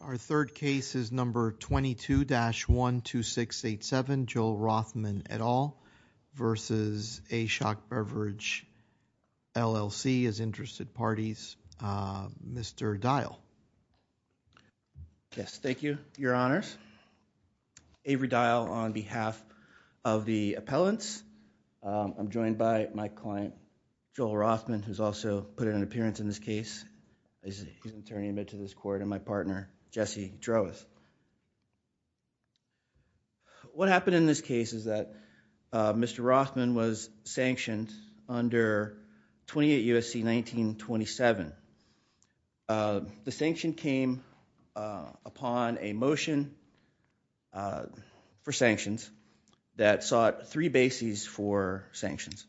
Our third case is number 22-12687, Joel Rothman et al. v. A Shoc Beverage, LLC, is interested parties. Mr. Dial. Yes, thank you, your honors. Avery Dial on behalf of the appellants. I'm joined by my client, Joel Rothman, who's also put in an appearance in this case. He's an LLC droves. What happened in this case is that Mr. Rothman was sanctioned under 28 U.S.C. 1927. The sanction came upon a motion for sanctions that sought three bases for sanctions.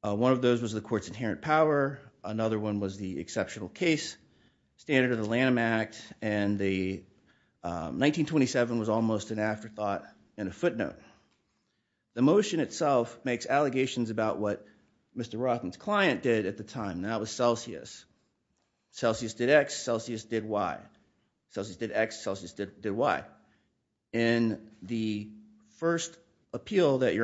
One of those was the court's inherent power. Another one was the exceptional case standard of the Lanham Act, and the 1927 was almost an afterthought and a footnote. The motion itself makes allegations about what Mr. Rothman's client did at the time, and that was Celsius. Celsius did X, Celsius did Y. Celsius did X, Celsius did Y. In the first appeal that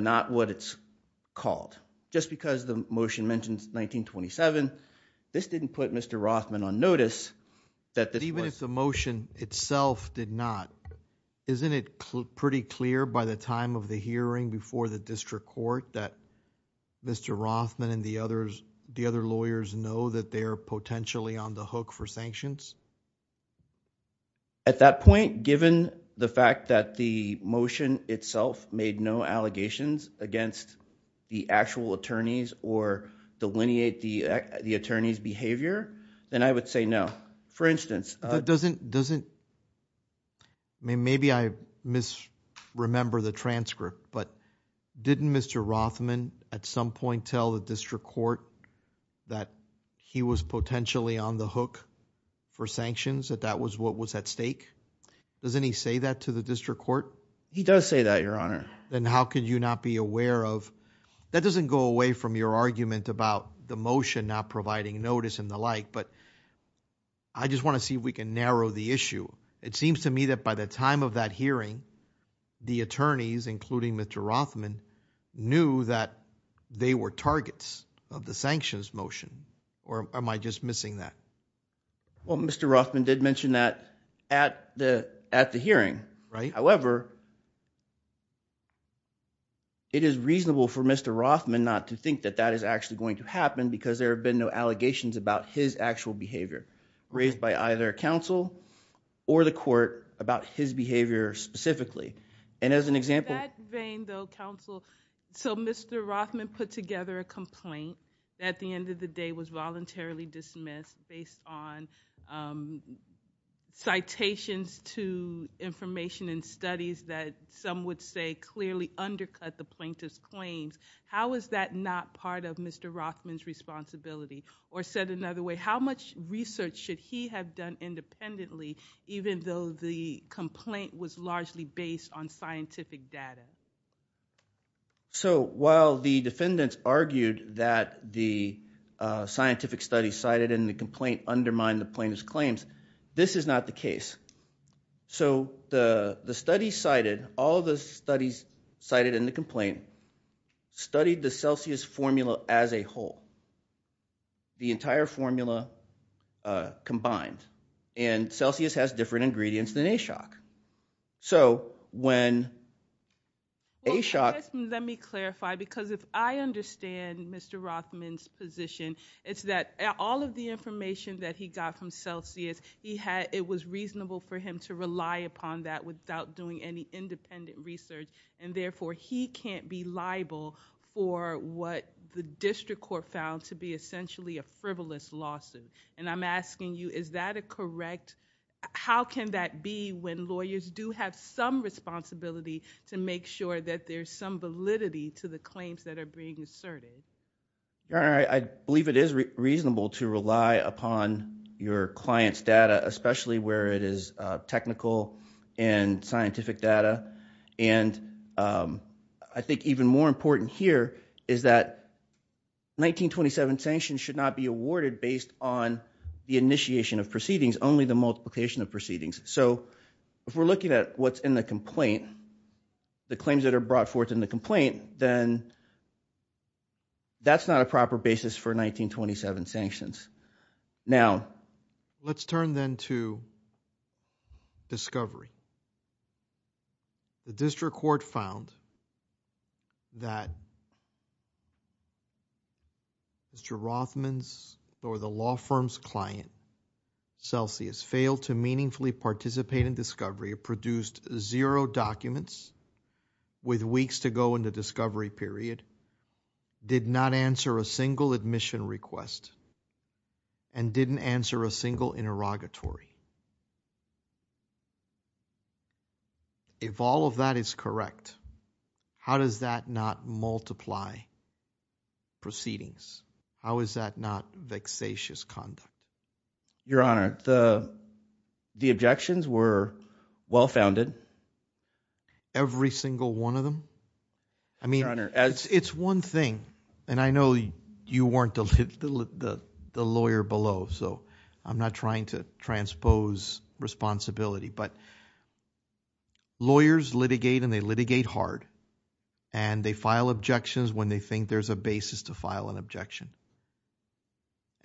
not what it's called. Just because the motion mentions 1927, this didn't put Mr. Rothman on notice. Even if the motion itself did not, isn't it pretty clear by the time of the hearing before the district court that Mr. Rothman and the other lawyers know that they are potentially on the hook for sanctions? At that point, given the fact that the motion itself made no allegations against the actual attorneys or delineate the attorney's behavior, then I would say no. For instance, doesn't, maybe I misremember the transcript, but didn't Mr. Rothman at some point tell the district court that he was potentially on the hook for sanctions, that that was what was at stake? Doesn't he say that to the district court? He does say that, Your Honor. Then how could you not be aware of, that doesn't go away from your argument about the motion not providing notice and the like, but I just want to see if we can narrow the issue. It seems to me that by the time of that hearing, the attorneys, including Mr. Rothman, knew that they were targets of the sanctions motion, or am I just missing that? Well, Mr. Rothman did mention that at the hearing. However, it is reasonable for Mr. Rothman not to think that that is actually going to happen because there have been no allegations about his actual behavior raised by either counsel or the court about his behavior specifically. And as an example... In that vein though, counsel, so Mr. Rothman put together a complaint that at the end of the day was citations to information and studies that some would say clearly undercut the plaintiff's claims. How is that not part of Mr. Rothman's responsibility? Or said another way, how much research should he have done independently even though the complaint was largely based on scientific data? So while the defendants argued that the scientific study cited in the complaint undermined the plaintiff's claims, this is not the case. So the studies cited, all the studies cited in the complaint, studied the Celsius formula as a whole. The entire formula combined. And Celsius has different ingredients than Ashok. So when Ashok... Let me clarify because if I understand Mr. Rothman's position, it's that all of the information that he got from Celsius, it was reasonable for him to rely upon that without doing any independent research. And therefore he can't be liable for what the district court found to be essentially a frivolous lawsuit. And I'm asking you, is that a correct... How can that be when lawyers do have some responsibility to make sure that there's some validity to the claims that are being asserted? Your Honor, I believe it is reasonable to rely upon your client's data, especially where it is technical and scientific data. And I think even more important here is that 1927 sanctions should not be awarded based on the initiation of proceedings, only the multiplication of proceedings. So if we're looking at what's in the complaint, the claims that are brought forth in the complaint, then that's not a proper basis for 1927 sanctions. Now, let's turn then to discovery. The district court found that Mr. Rothman's or the law firm's client, Celsius, failed to meaningfully participate in discovery, produced zero documents with weeks to go in the discovery period, did not answer a single admission request, and didn't answer a single interrogatory. If all of that is correct, how does that not multiply proceedings? How is that not vexatious conduct? Your Honor, the objections were well founded. Every single one of them? I mean, it's one thing, and I know you weren't the lawyer below, so I'm not trying to transpose responsibility, but lawyers litigate and they litigate hard. And they file objections when they think there's a basis to file an objection.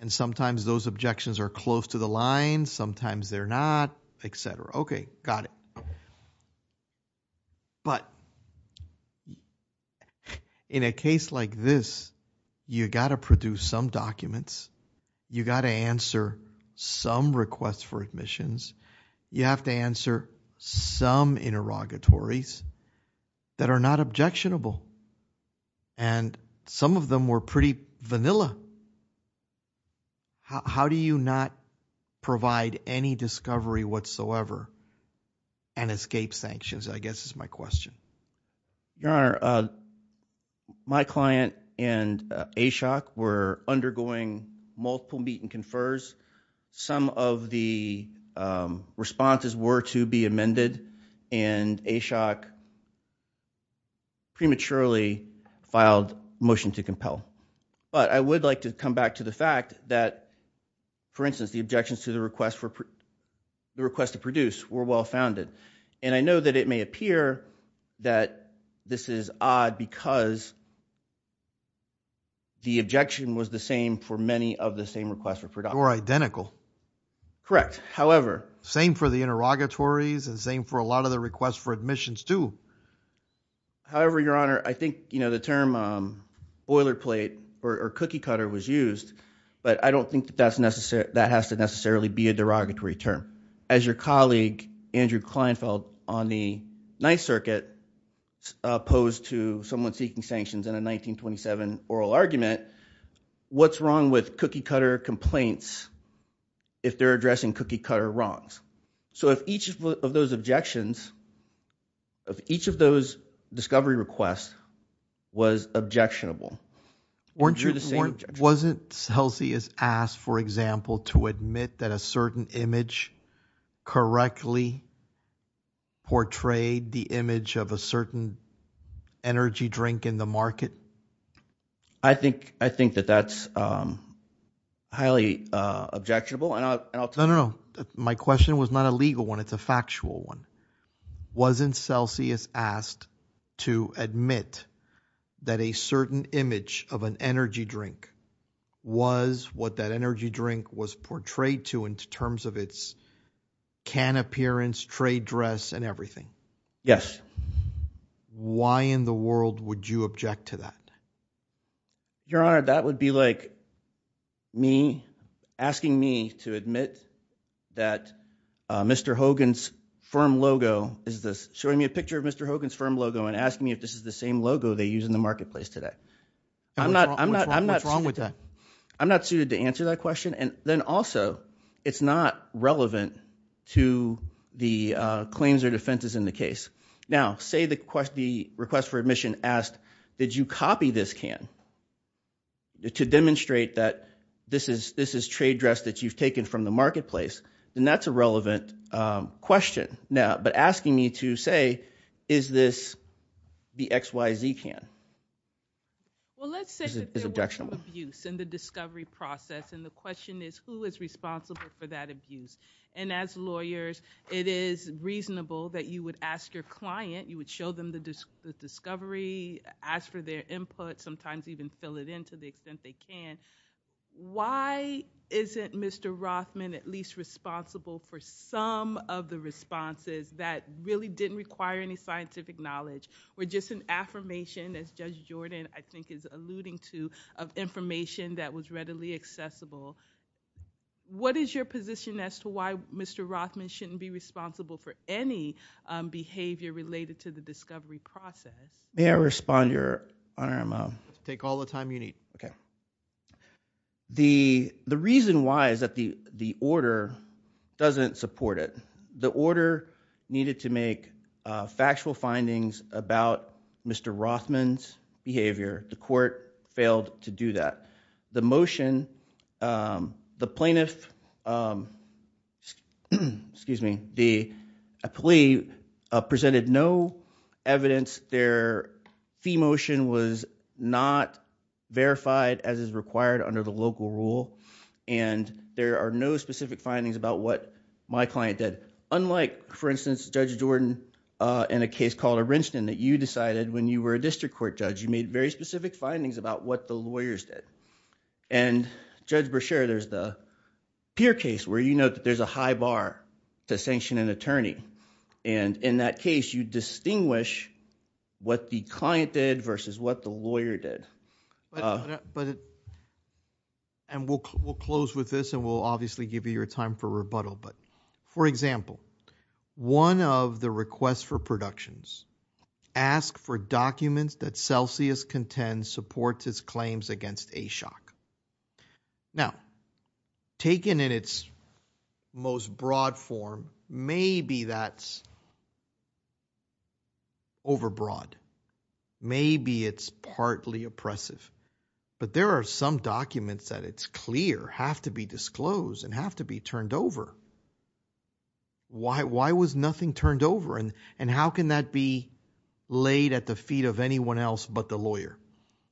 And sometimes those objections are close to the line, sometimes they're not, etc. Okay, got it. But in a case like this, you got to produce some documents, you got to answer some requests for admissions, you have to answer some interrogatories that are not objectionable, and some of them were pretty vanilla. How do you not provide any discovery whatsoever and escape sanctions, I guess is my question. Your Honor, my client and Ashok were undergoing multiple meet and confers, some of the responses were to be amended, and Ashok prematurely filed motion to compel. But I would like to come back to the fact that, for instance, the objections to the request for the request to produce were well founded. And I know that it may appear that this is odd because the objection was the same for many of the same requests for production. Or identical. Correct, however. Same for the interrogatories and same for a lot of the requests for admissions too. However, Your Honor, I think the term boilerplate or cookie cutter was used, but I don't think that has to necessarily be a derogatory term. As your colleague Andrew Kleinfeld on the Ninth Circuit posed to someone seeking sanctions in a 1927 oral argument, what's wrong with cookie cutter complaints if they're addressing cookie cutter wrongs? So if each of those objections, if each of those discovery requests was objectionable. Wasn't Celsius asked, for example, to admit that a certain image correctly portrayed the image of a certain energy drink in the market? I think that that's highly objectionable. No, no, no. My question was not a legal one. It's a factual one. Wasn't Celsius asked to admit that a certain image of an energy drink was what that energy drink was portrayed to in terms of its can appearance, trade dress, and everything? Yes. Why in the world would you object to that? Your Honor, that would be like me asking me to admit that Mr. Hogan's firm logo is this, showing me a picture of Mr. Hogan's firm logo and asking me if this is the same logo they use in the marketplace today. I'm not, I'm not, I'm not wrong with that. I'm not suited to answer that question. And then also it's not relevant to the claims or defenses in the case. Now, say the request for admission asked, did you copy this can to demonstrate that this is, this is trade dress that you've taken from the marketplace? And that's a relevant question now, but asking me to say, is this the XYZ can? Well, let's say that there was some abuse in the discovery process. And the question is who is responsible for that abuse? And as lawyers, it is reasonable that you would ask your client, you would show them the discovery, ask for their input, sometimes even fill it in to the extent they can. Why isn't Mr. Rothman at least responsible for some of the responses that really didn't require any scientific knowledge or just an affirmation as Judge Jordan, I think is alluding to of accessible. What is your position as to why Mr. Rothman shouldn't be responsible for any behavior related to the discovery process? May I respond your honor? I'm a take all the time you need. Okay. The, the reason why is that the, the order doesn't support it. The order needed to make factual findings about Mr. Rothman's behavior. The court failed to do that. The motion, the plaintiff, excuse me, the plea presented no evidence. Their fee motion was not verified as is required under the local rule. And there are no specific findings about what my client did. Unlike for instance, Judge Jordan in a case called a Rinsden that you decided when you were a district court judge, you made very specific findings about what the lawyers did. And Judge Brashear, there's the Peer case where you know that there's a high bar to sanction an attorney. And in that case, you distinguish what the client did versus what the lawyer did. But, and we'll, we'll close with this and we'll obviously give you your time for rebuttal. But for example, one of the requests for productions ask for documents that Celsius contends supports his claims against Ashok. Now taken in its most broad form, maybe that's overbroad. Maybe it's partly oppressive, but there are some documents that it's clear have to be why, why was nothing turned over? And, and how can that be laid at the feet of anyone else but the lawyer?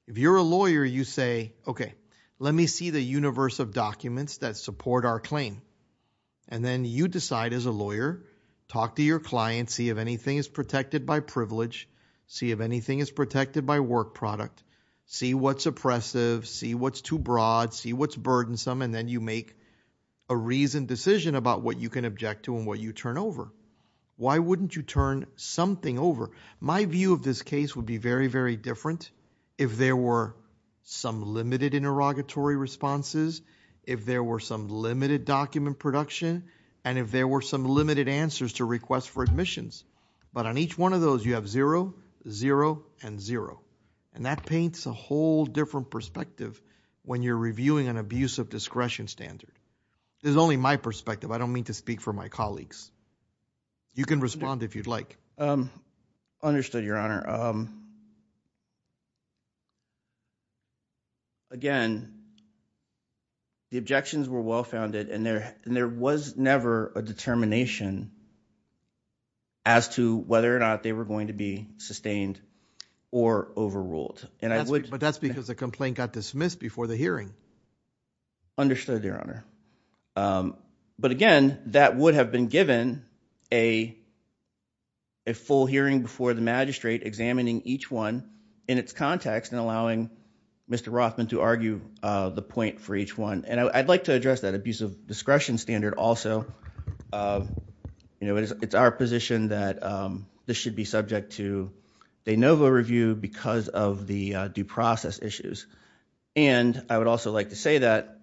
If you're a lawyer, you say, okay, let me see the universe of documents that support our claim. And then you decide as a lawyer, talk to your client, see if anything is protected by privilege, see if anything is protected by work product, see what's oppressive, see what's too and what you turn over. Why wouldn't you turn something over? My view of this case would be very, very different. If there were some limited interrogatory responses, if there were some limited document production, and if there were some limited answers to request for admissions, but on each one of those, you have zero, zero and zero. And that paints a whole different perspective when you're reviewing an abuse of discretion standard. There's only my perspective. I don't mean to speak for my colleagues. You can respond if you'd like. Um, understood your honor. Um, again, the objections were well-founded and there, and there was never a determination as to whether or not they were going to be sustained or overruled. And I would, but that's because the complaint got dismissed before the hearing. Understood your honor. Um, but again, that would have been given a, a full hearing before the magistrate examining each one in its context and allowing Mr. Rothman to argue, uh, the point for each one. And I, I'd like to address that abuse of discretion standard also. Um, you know, it's, it's our position that, um, this should be subject to de novo review because of the due process issues. And I would also like to say that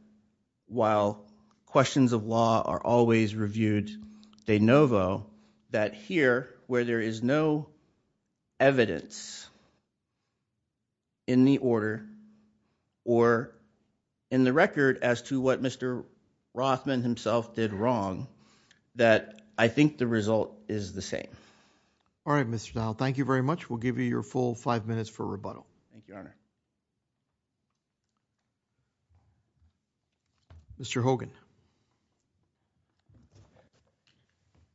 while questions of law are always reviewed de novo, that here where there is no evidence in the order or in the record as to what Mr. Rothman himself did wrong, that I think the result is the same. All right, Mr. Dow. Thank you very much. We'll give you your full five minutes for rebuttal. Mr. Hogan.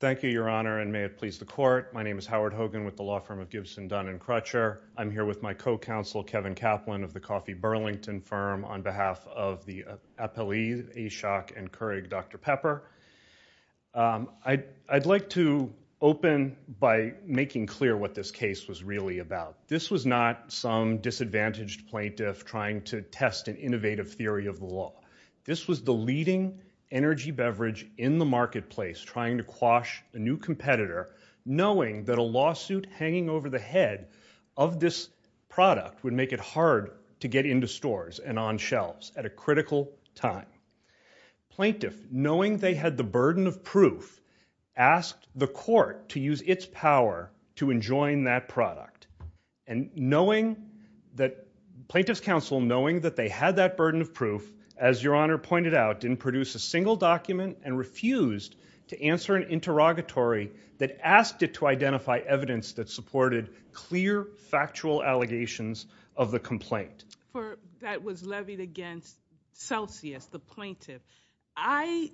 Thank you, your honor. And may it please the court. My name is Howard Hogan with the law firm of Gibson Dunn and Crutcher. I'm here with my co-counsel, Kevin Kaplan of the coffee Burlington firm on behalf of the appellee, a shock and Keurig, Dr. Pepper. Um, I I'd like to open by making clear what this case was really about. This was not some disadvantaged plaintiff trying to test an innovative theory of the law. This was the leading energy beverage in the marketplace, trying to quash a new competitor, knowing that a lawsuit hanging over the head of this product would make it hard to get into stores and on shelves at a critical time. Plaintiff knowing they had the burden of proof, asked the court to use its power to enjoin that product. And knowing that plaintiff's counsel, knowing that they had that burden of proof, as your honor pointed out, didn't produce a single document and refused to answer an interrogatory that asked it to identify evidence that supported clear factual allegations of the complaint that was levied against Celsius, the plaintiff. I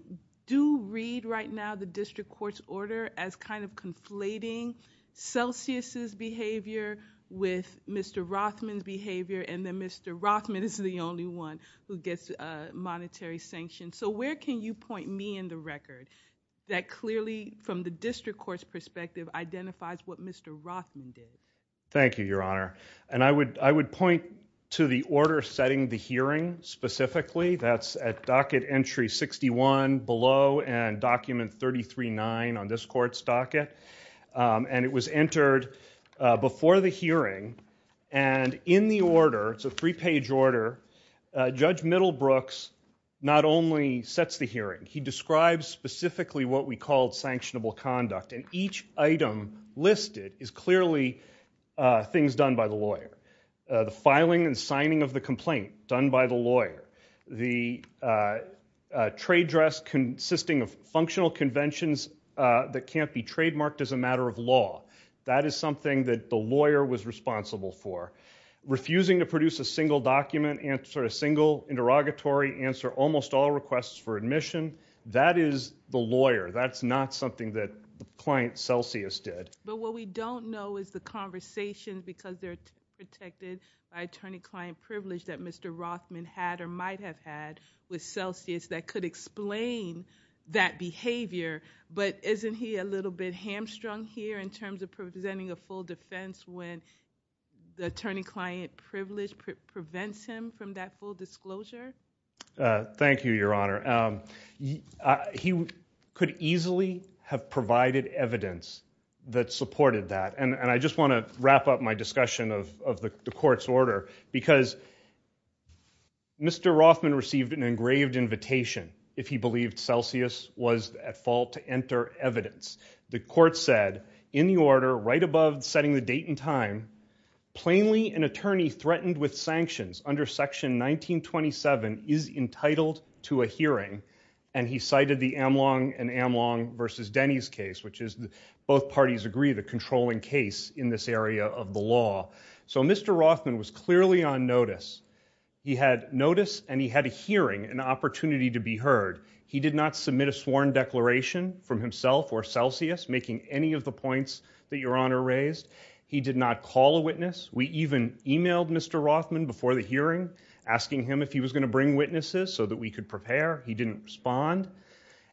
do read right now the district court's order as kind of conflating Celsius's behavior with Mr. Rothman's behavior. And then Mr. Rothman is the only one who gets a monetary sanction. So where can you point me in the record that clearly from the district court's perspective identifies what Mr. Rothman did? Thank you, your honor. And I would, point to the order setting the hearing, specifically. That's at docket entry 61 below and document 33-9 on this court's docket. And it was entered before the hearing. And in the order, it's a three-page order, Judge Middlebrooks not only sets the hearing, he describes specifically what we called sanctionable conduct. And each item listed is clearly things done by the lawyer. The filing and signing of the complaint done by the lawyer. The trade dress consisting of functional conventions that can't be trademarked as a matter of law. That is something that the lawyer was responsible for. Refusing to produce a single document, answer a single interrogatory, answer almost all requests for admission, that is the lawyer. That's not something that client Celsius did. But what we don't know is the conversation because they're protected by attorney-client privilege that Mr. Rothman had or might have had with Celsius that could explain that behavior. But isn't he a little bit hamstrung here in terms of presenting a full defense when the attorney-client privilege prevents him from that full disclosure? Thank you, your honor. He could easily have provided evidence that supported that. And I just want to wrap up my discussion of the court's order because Mr. Rothman received an engraved invitation if he believed Celsius was at fault to enter evidence. The court said in the order right above setting the date and time, plainly an attorney threatened with sanctions under section 1927 is entitled to a hearing and he cited the Amlong and Amlong versus Denny's case, which is both parties agree the controlling case in this area of the law. So Mr. Rothman was clearly on notice. He had notice and he had a hearing, an opportunity to be heard. He did not submit a sworn declaration from himself or Celsius making any of the points that your honor raised. He did not call a witness. We even emailed Mr. Rothman before the hearing asking him if he was going to bring witnesses so that we could prepare. He didn't respond.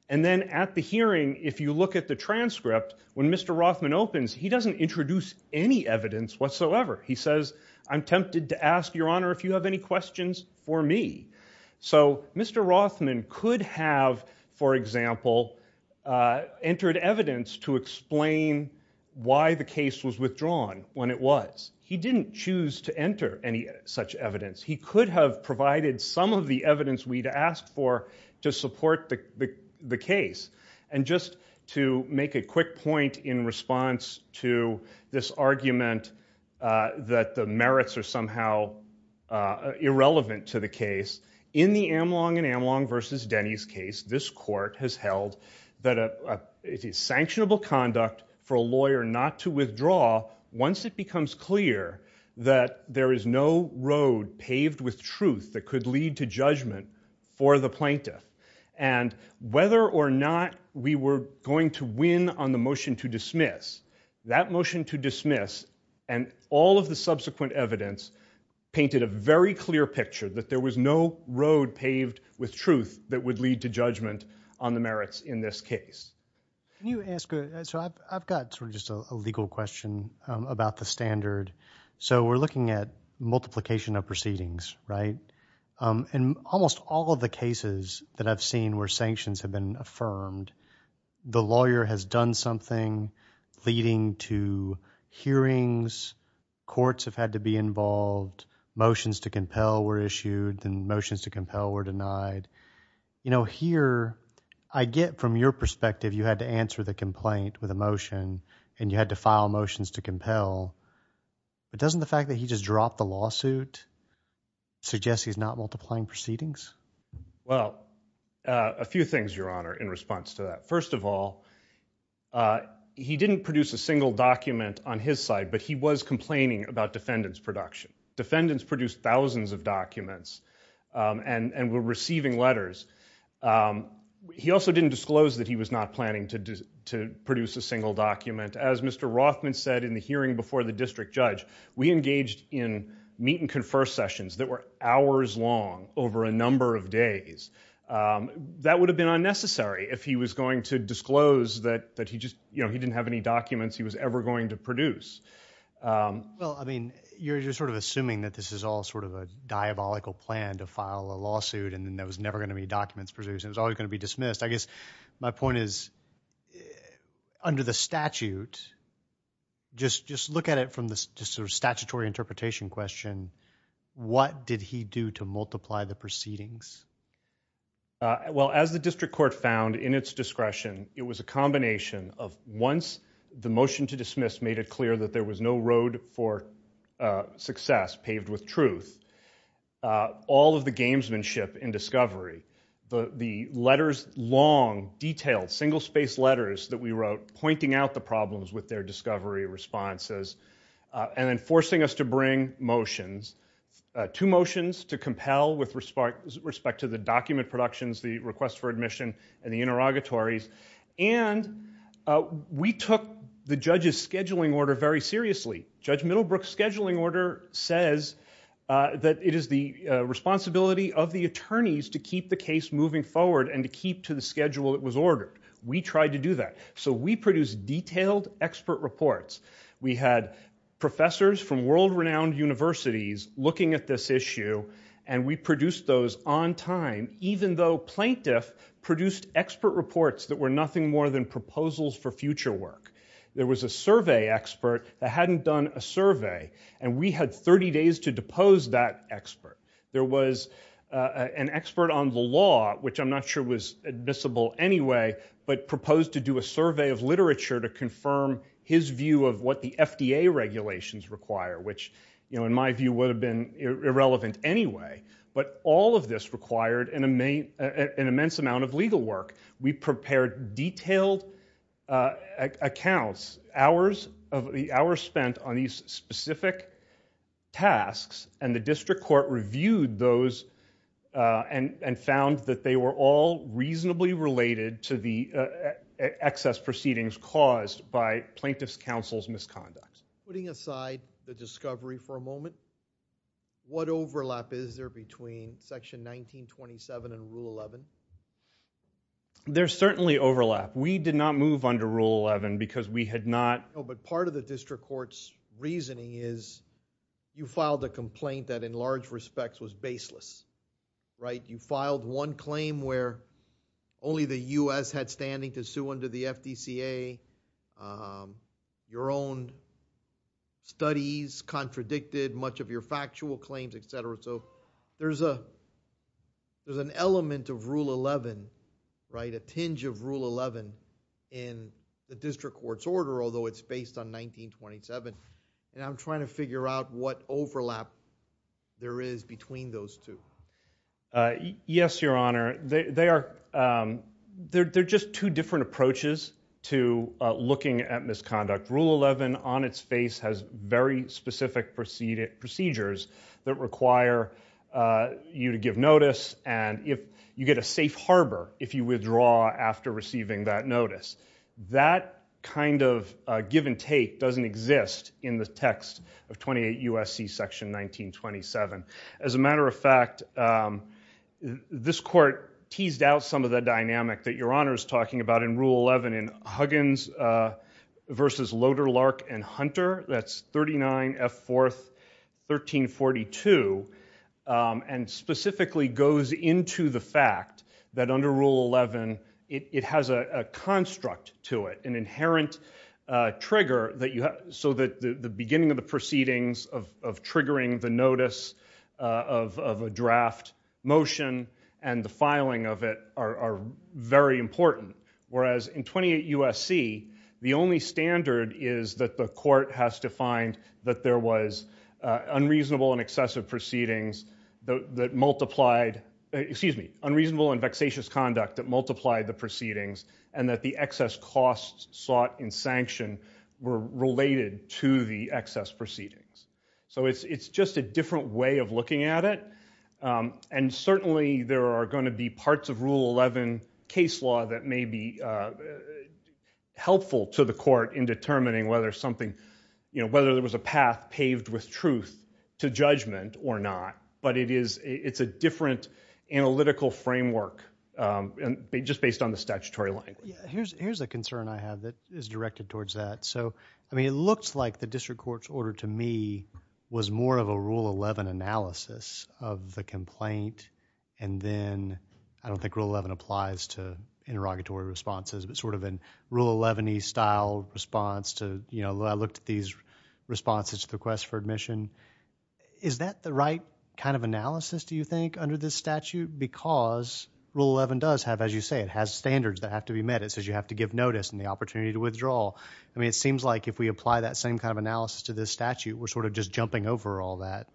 And then at the hearing, if you look at the transcript, when Mr. Rothman opens, he doesn't introduce any evidence whatsoever. He says, I'm tempted to ask your honor if you have any questions for me. So Mr. Rothman could have, for example, entered evidence to explain why the case was withdrawn when it was. He didn't choose to enter any such evidence. He could have provided some of the evidence we'd asked for to support the case. And just to make a quick point in response to this argument that the merits are somehow irrelevant to the case, in the Amlong and Amlong versus Denny's case, this court has held that it is sanctionable conduct for a lawyer not to withdraw once it becomes clear that there is no road paved with truth that could lead to judgment for the plaintiff. And whether or not we were going to win on the motion to dismiss, that motion to dismiss and all of the subsequent evidence painted a very clear picture that there was no road paved with truth that would lead to judgment on the merits in this case. I've got sort of just a legal question about the standard. So we're looking at multiplication of proceedings, right? In almost all of the cases that I've seen where sanctions have been affirmed, the lawyer has done something leading to hearings, courts have had to be involved, motions to compel were issued, and motions to compel were denied. You know, here I get from your perspective, you had to answer the complaint with a motion and you had to file motions to compel, but doesn't the fact that he just dropped the lawsuit suggest he's not multiplying proceedings? Well, a few things, your honor, in response to that. First of all, he didn't produce a single document on his side, but he was complaining about defendant's production. Defendants produced thousands of documents and were receiving letters. He also didn't disclose that he was not planning to produce a single document. As Mr. Rothman said in the hearing before the district judge, we engaged in meet and confer sessions that were hours long over a number of days. That would have been unnecessary if he was going to disclose that he just, you know, he didn't have any documents he was ever going to produce. Well, I mean, you're just sort of assuming that this is all sort of a diabolical plan to file a lawsuit and then there was never going to be documents produced. It was always going to be dismissed. I guess my point is, under the statute, just look at it from the sort of statutory interpretation question, what did he do to multiply the proceedings? Well, as the district court found in its discretion, it was a combination of once the motion to dismiss made it clear that there was no road for success paved with truth. All of the gamesmanship in discovery, the letters, long, detailed, single-spaced letters that we wrote pointing out the problems with their discovery responses and then forcing us to bring motions, two motions to compel with respect to the document productions, the request for admission, and the interrogatories. And we took the judge's order, says that it is the responsibility of the attorneys to keep the case moving forward and to keep to the schedule that was ordered. We tried to do that. So we produced detailed expert reports. We had professors from world-renowned universities looking at this issue and we produced those on time even though plaintiff produced expert reports that were nothing more than proposals for future work. There was a survey expert that hadn't done a survey and we had 30 days to depose that expert. There was an expert on the law, which I'm not sure was admissible anyway, but proposed to do a survey of literature to confirm his view of what the FDA regulations require, which, you know, in my view would have been irrelevant anyway. But all of this required an immense amount of legal work. We prepared detailed accounts, hours spent on these specific tasks, and the district court reviewed those and found that they were all reasonably related to the excess proceedings caused by plaintiff's counsel's misconduct. Putting aside the discovery for a moment, what overlap is there between Section 1927 and Rule 11? There's certainly overlap. We did not move under Rule 11 because we had not... No, but part of the district court's reasoning is you filed a complaint that in large respects was baseless, right? You filed one claim where only the U.S. had standing to sue under the FDCA, um, your own studies contradicted much of your factual claims, etc. So there's a, there's an element of Rule 11, right, a tinge of Rule 11 in the district court's order, although it's based on 1927. And I'm trying to figure out what overlap there is between those two. Yes, Your Honor, they are, they're just two different approaches to looking at misconduct. Rule 11 on its face has very specific procedures that require you to give notice and if you get a safe harbor if you withdraw after receiving that notice. That kind of give and take doesn't exist in the text of 28 U.S.C. Section 1927. As a matter of fact, this court teased out some of the dynamic that Your Honor is talking about in Rule 11 in Huggins versus Loder, Lark, and Hunter, that's 39 F. 4th, 1342, and specifically goes into the fact that under Rule 11 it has a construct to it, an inherent trigger that you have, so that the beginning of the proceedings of triggering the notice of a draft motion and the filing of it are very important. Whereas in 28 U.S.C., the only standard is that the court has to find that there was unreasonable and excessive proceedings that multiplied, excuse me, unreasonable and vexatious conduct that costs sought in sanction were related to the excess proceedings. So it's just a different way of looking at it and certainly there are going to be parts of Rule 11 case law that may be helpful to the court in determining whether something, you know, whether there was a path paved with truth to judgment or not, but it's a different analytical framework and just based on the statutory language. Yeah, here's a concern I have that is directed towards that. So, I mean, it looks like the district court's order to me was more of a Rule 11 analysis of the complaint and then, I don't think Rule 11 applies to interrogatory responses, but sort of in Rule 11-y style response to, you know, I looked at these responses to the request for admission. Is that the right kind of analysis, do you think, under this statute? Because Rule 11 does have, as you say, it has standards that have to be met. It says you have to give notice and the opportunity to withdraw. I mean, it seems like if we apply that same kind of analysis to this statute, we're sort of just jumping over all that.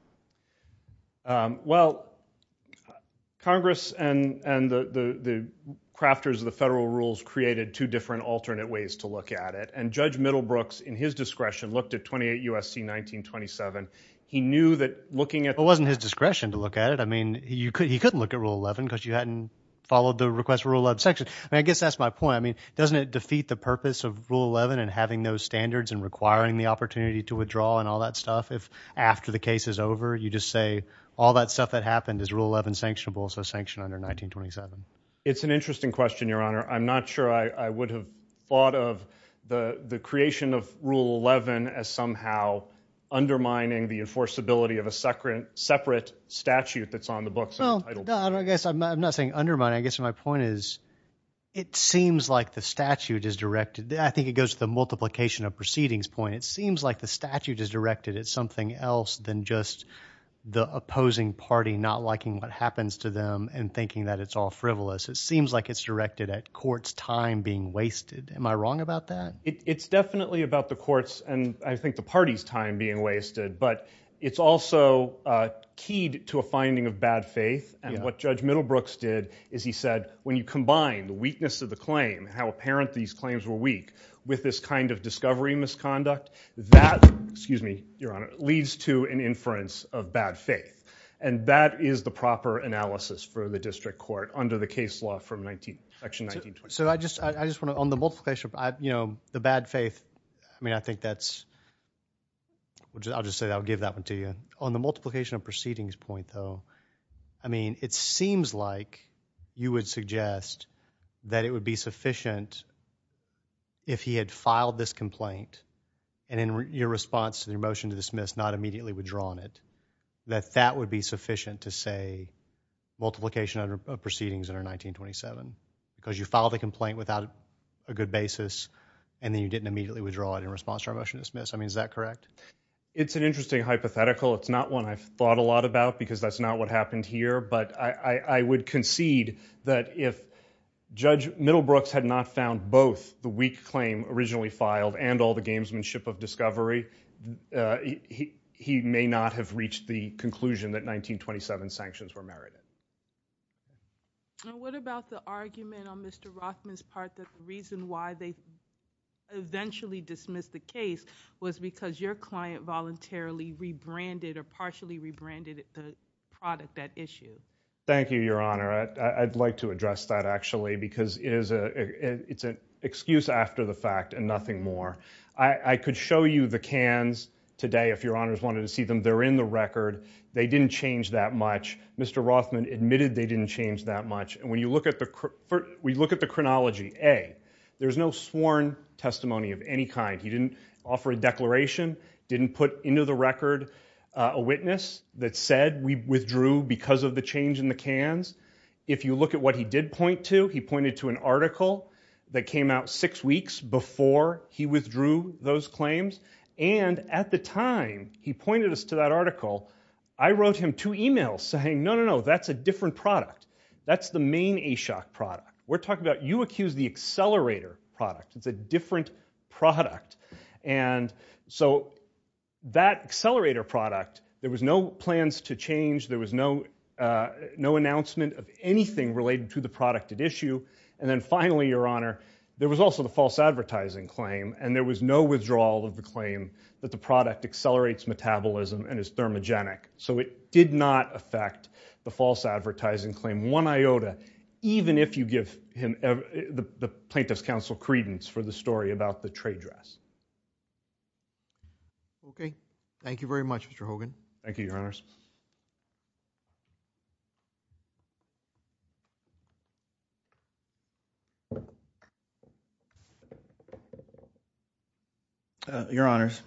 Well, Congress and the crafters of the federal rules created two different alternate ways to look at it and Judge Middlebrooks, in his discretion, looked at 28 U.S.C. 1927. He knew that looking at... It wasn't his discretion to look at it. I mean, he couldn't look at Rule 11 because you hadn't followed the request for Rule 11 section. I mean, I guess that's my point. I mean, doesn't it defeat the purpose of Rule 11 and having those standards and requiring the opportunity to withdraw and all that stuff if after the case is over, you just say all that stuff that happened is Rule 11 sanctionable, so sanctioned under 1927? It's an interesting question, Your Honor. I'm not sure I would have thought of the creation of Rule 11 as somehow undermining the enforceability of a separate statute that's on the books. No, I guess I'm not saying undermining. I guess my point is it seems like the statute is directed... I think it goes to the multiplication of proceedings point. It seems like the statute is directed at something else than just the opposing party not liking what happens to them and thinking that it's all frivolous. It seems like it's directed at courts' time being wasted. Am I wrong about that? It's definitely about the courts' and I think the party's time being wasted, but it's also keyed to a finding of bad faith and what Judge Middlebrooks did is he said when you combine the weakness of the claim, how apparent these claims were weak, with this kind of discovery misconduct, that, excuse me, Your Honor, leads to an inference of bad faith and that is the proper analysis for the district court under the case law from 19... section 1920. So I just want to... on the multiplication, you know, the bad faith, I mean, I think that's... I'll just say that. I'll give that one to you. On the multiplication of proceedings point, though, I mean, it seems like you would suggest that it would be sufficient if he had filed this complaint and in your response to the motion to dismiss not immediately withdrawn it, that that would be sufficient to say multiplication of proceedings under 1927 because you filed a complaint without a good basis and then you didn't immediately withdraw it in response to our motion to dismiss. I mean, is that correct? It's an interesting hypothetical. It's not one I've thought a lot about because that's not what happened here, but I would concede that if Judge Middlebrooks had not found both the weak claim originally filed and all the gamesmanship of discovery, he may not have reached the conclusion that 1927 sanctions were merited. Now, what about the argument on Mr. Rothman's part that the reason why they eventually dismissed the case was because your client voluntarily rebranded or partially rebranded the product, that issue? Thank you, Your Honor. I'd like to address that actually because it's an excuse after the fact and nothing more. I could show you the cans today if Your Honors wanted to see them. They're in the record. They didn't change that much. Mr. Rothman admitted they didn't change that much, and when you look at the chronology, A, there's no sworn testimony of any kind. He didn't offer a declaration, didn't put into the record a witness that said we withdrew because of the change in the cans. If you look at what he did point to, he pointed to an article that came out six weeks before he withdrew those claims, and at the time he pointed us to that article, I wrote him two emails saying, no, no, no, that's a different product. That's the main Ashok product. We're talking about, you accused the accelerator product. It's a different product, and so that accelerator product, there was no plans to change, there was no announcement of anything related to the product at issue, and then finally, Your Honor, there was also the false advertising claim, and there was no withdrawal of the claim that the is thermogenic, so it did not affect the false advertising claim, one iota, even if you give the plaintiff's counsel credence for the story about the trade dress. Okay. Thank you very much, Mr. Hogan. Thank you, Your Honors. Your Honors,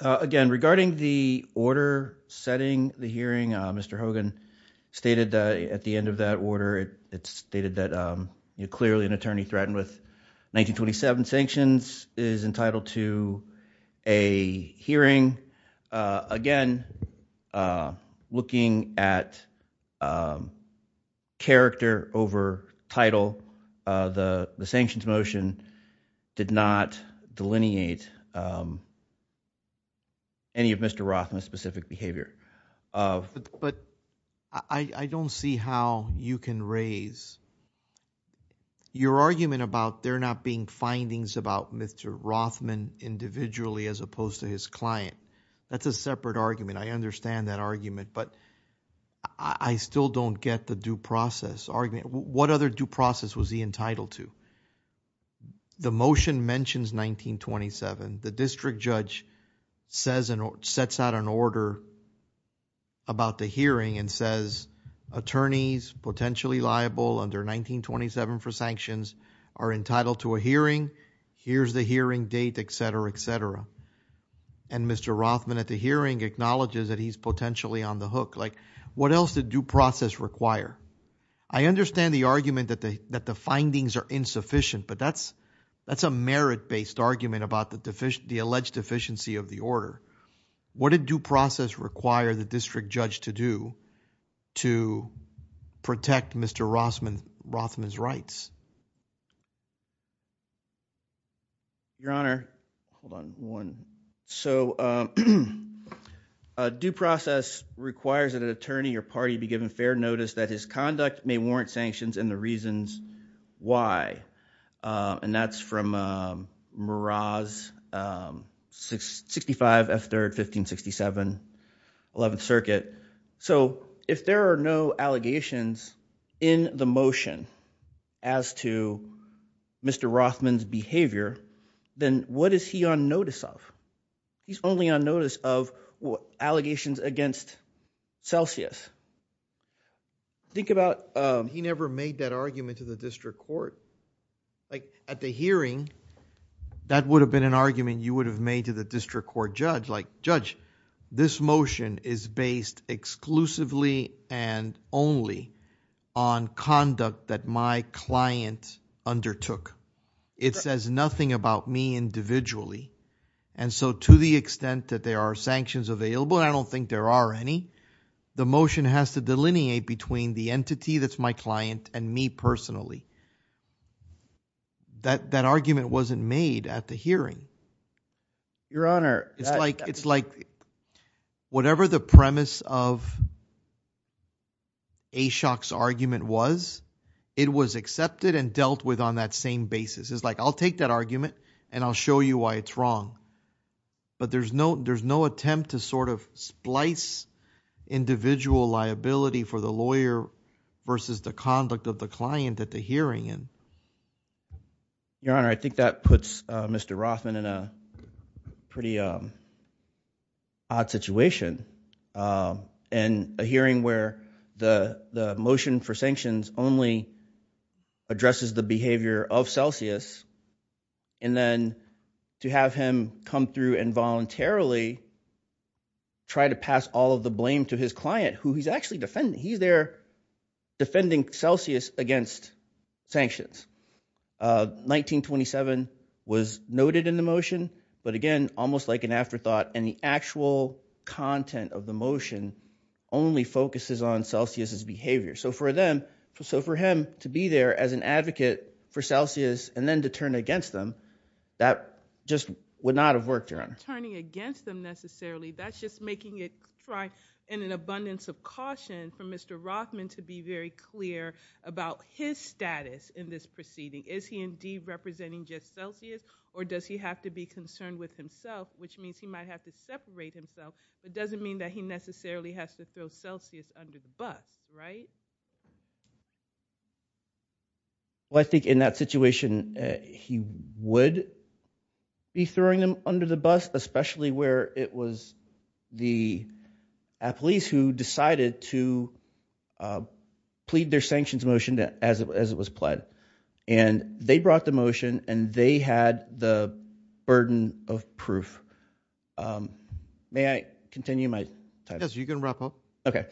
again, regarding the order setting the hearing, Mr. Hogan stated at the end of that order, it stated that, clearly, an attorney threatened with 1927 sanctions is entitled to a hearing. Again, there was no withdrawal of the claim, and so there was no withdrawal of the looking at character over title. The sanctions motion did not delineate any of Mr. Rothman's specific behavior. But I don't see how you can raise your argument about there not being findings about Mr. Rothman individually as opposed to his client. That's a separate argument. I understand that argument, but I still don't get the due process argument. What other due process was he entitled to? The motion mentions 1927. The district judge sets out an order about the hearing and says, attorneys potentially liable under 1927 for sanctions are entitled to a hearing. Here's the hearing date, etc., etc. And Mr. Rothman at the hearing acknowledges that he's potentially on the hook. Like, what else did due process require? I understand the argument that the findings are insufficient, but that's a merit-based argument about the alleged deficiency of the order. What did due process require the district judge to do to protect Mr. Rothman's rights? Your Honor, hold on one. So, due process requires that an attorney or party be given fair notice that his conduct may warrant sanctions and the reasons why. And that's from Meraz, 65 F. 3rd, 1567, 11th Circuit. So, if there are no allegations in the motion as to Mr. Rothman's behavior, then what is he on notice of? He's only on notice of allegations against Celsius. Think about- He never made that argument to the district court. Like, at the hearing, that would have been an argument you would have made to the district court judge. Like, judge, this motion is based exclusively and only on conduct that my client undertook. It says nothing about me individually. And so, to the extent that there are sanctions available, and I don't think there are any, the motion has to delineate between the entity that's me personally. That argument wasn't made at the hearing. Your Honor- It's like, whatever the premise of Ashok's argument was, it was accepted and dealt with on that same basis. It's like, I'll take that argument and I'll show you why it's wrong. But there's no attempt to sort of splice individual liability for the lawyer versus the conduct of the client at the hearing. Your Honor, I think that puts Mr. Rothman in a pretty odd situation. In a hearing where the motion for sanctions only addresses the behavior of Celsius, and then to have him come through and voluntarily try to pass all of the blame to his client, who he's actually defending. He's there defending Celsius against sanctions. 1927 was noted in the motion, but again, almost like an afterthought, and the actual content of the motion only focuses on Celsius' behavior. So for them, so for him to be there as an advocate for Celsius, and then to turn against them, that just would not have worked, Your Honor. Turning against them necessarily, that's just making it try in an abundance of caution for Mr. Rothman to be very clear about his status in this proceeding. Is he indeed representing just Celsius, or does he have to be concerned with himself, which means he might have to separate himself. It doesn't mean that he would be throwing them under the bus, especially where it was the police who decided to plead their sanctions motion as it was pled, and they brought the motion, and they had the burden of proof. May I continue my time? Yes, you can wrap up. Okay,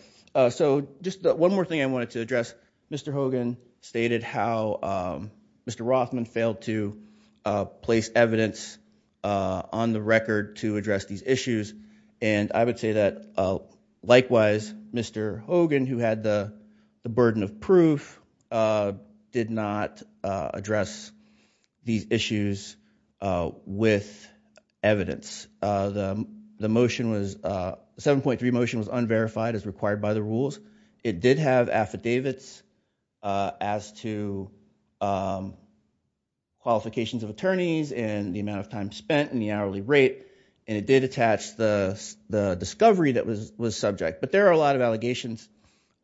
so just one more thing I wanted to address. Mr. Hogan stated how Mr. Rothman failed to place evidence on the record to address these issues, and I would say that likewise, Mr. Hogan, who had the burden of proof, did not address these issues with evidence. The motion was, the 7.3 motion was unverified as required by the rules. It did have affidavits as to qualifications of attorneys and the amount of time spent in the hourly rate, and it did attach the discovery that was subject, but there are a lot of allegations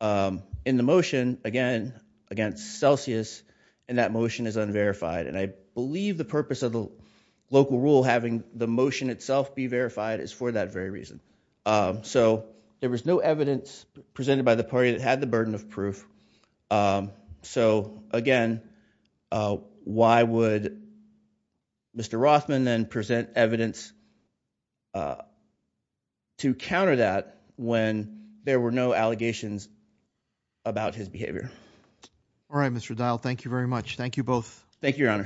in the motion, again, against Celsius, and that motion is unverified, and I believe the purpose of the local rule having the motion itself be verified is for that very reason. So, there was no evidence presented by the party that had the burden of proof. So, again, why would Mr. Rothman then present evidence to counter that when there were no allegations about his behavior? All right, Mr. Dial, thank you very much. Thank you both. Thank you, your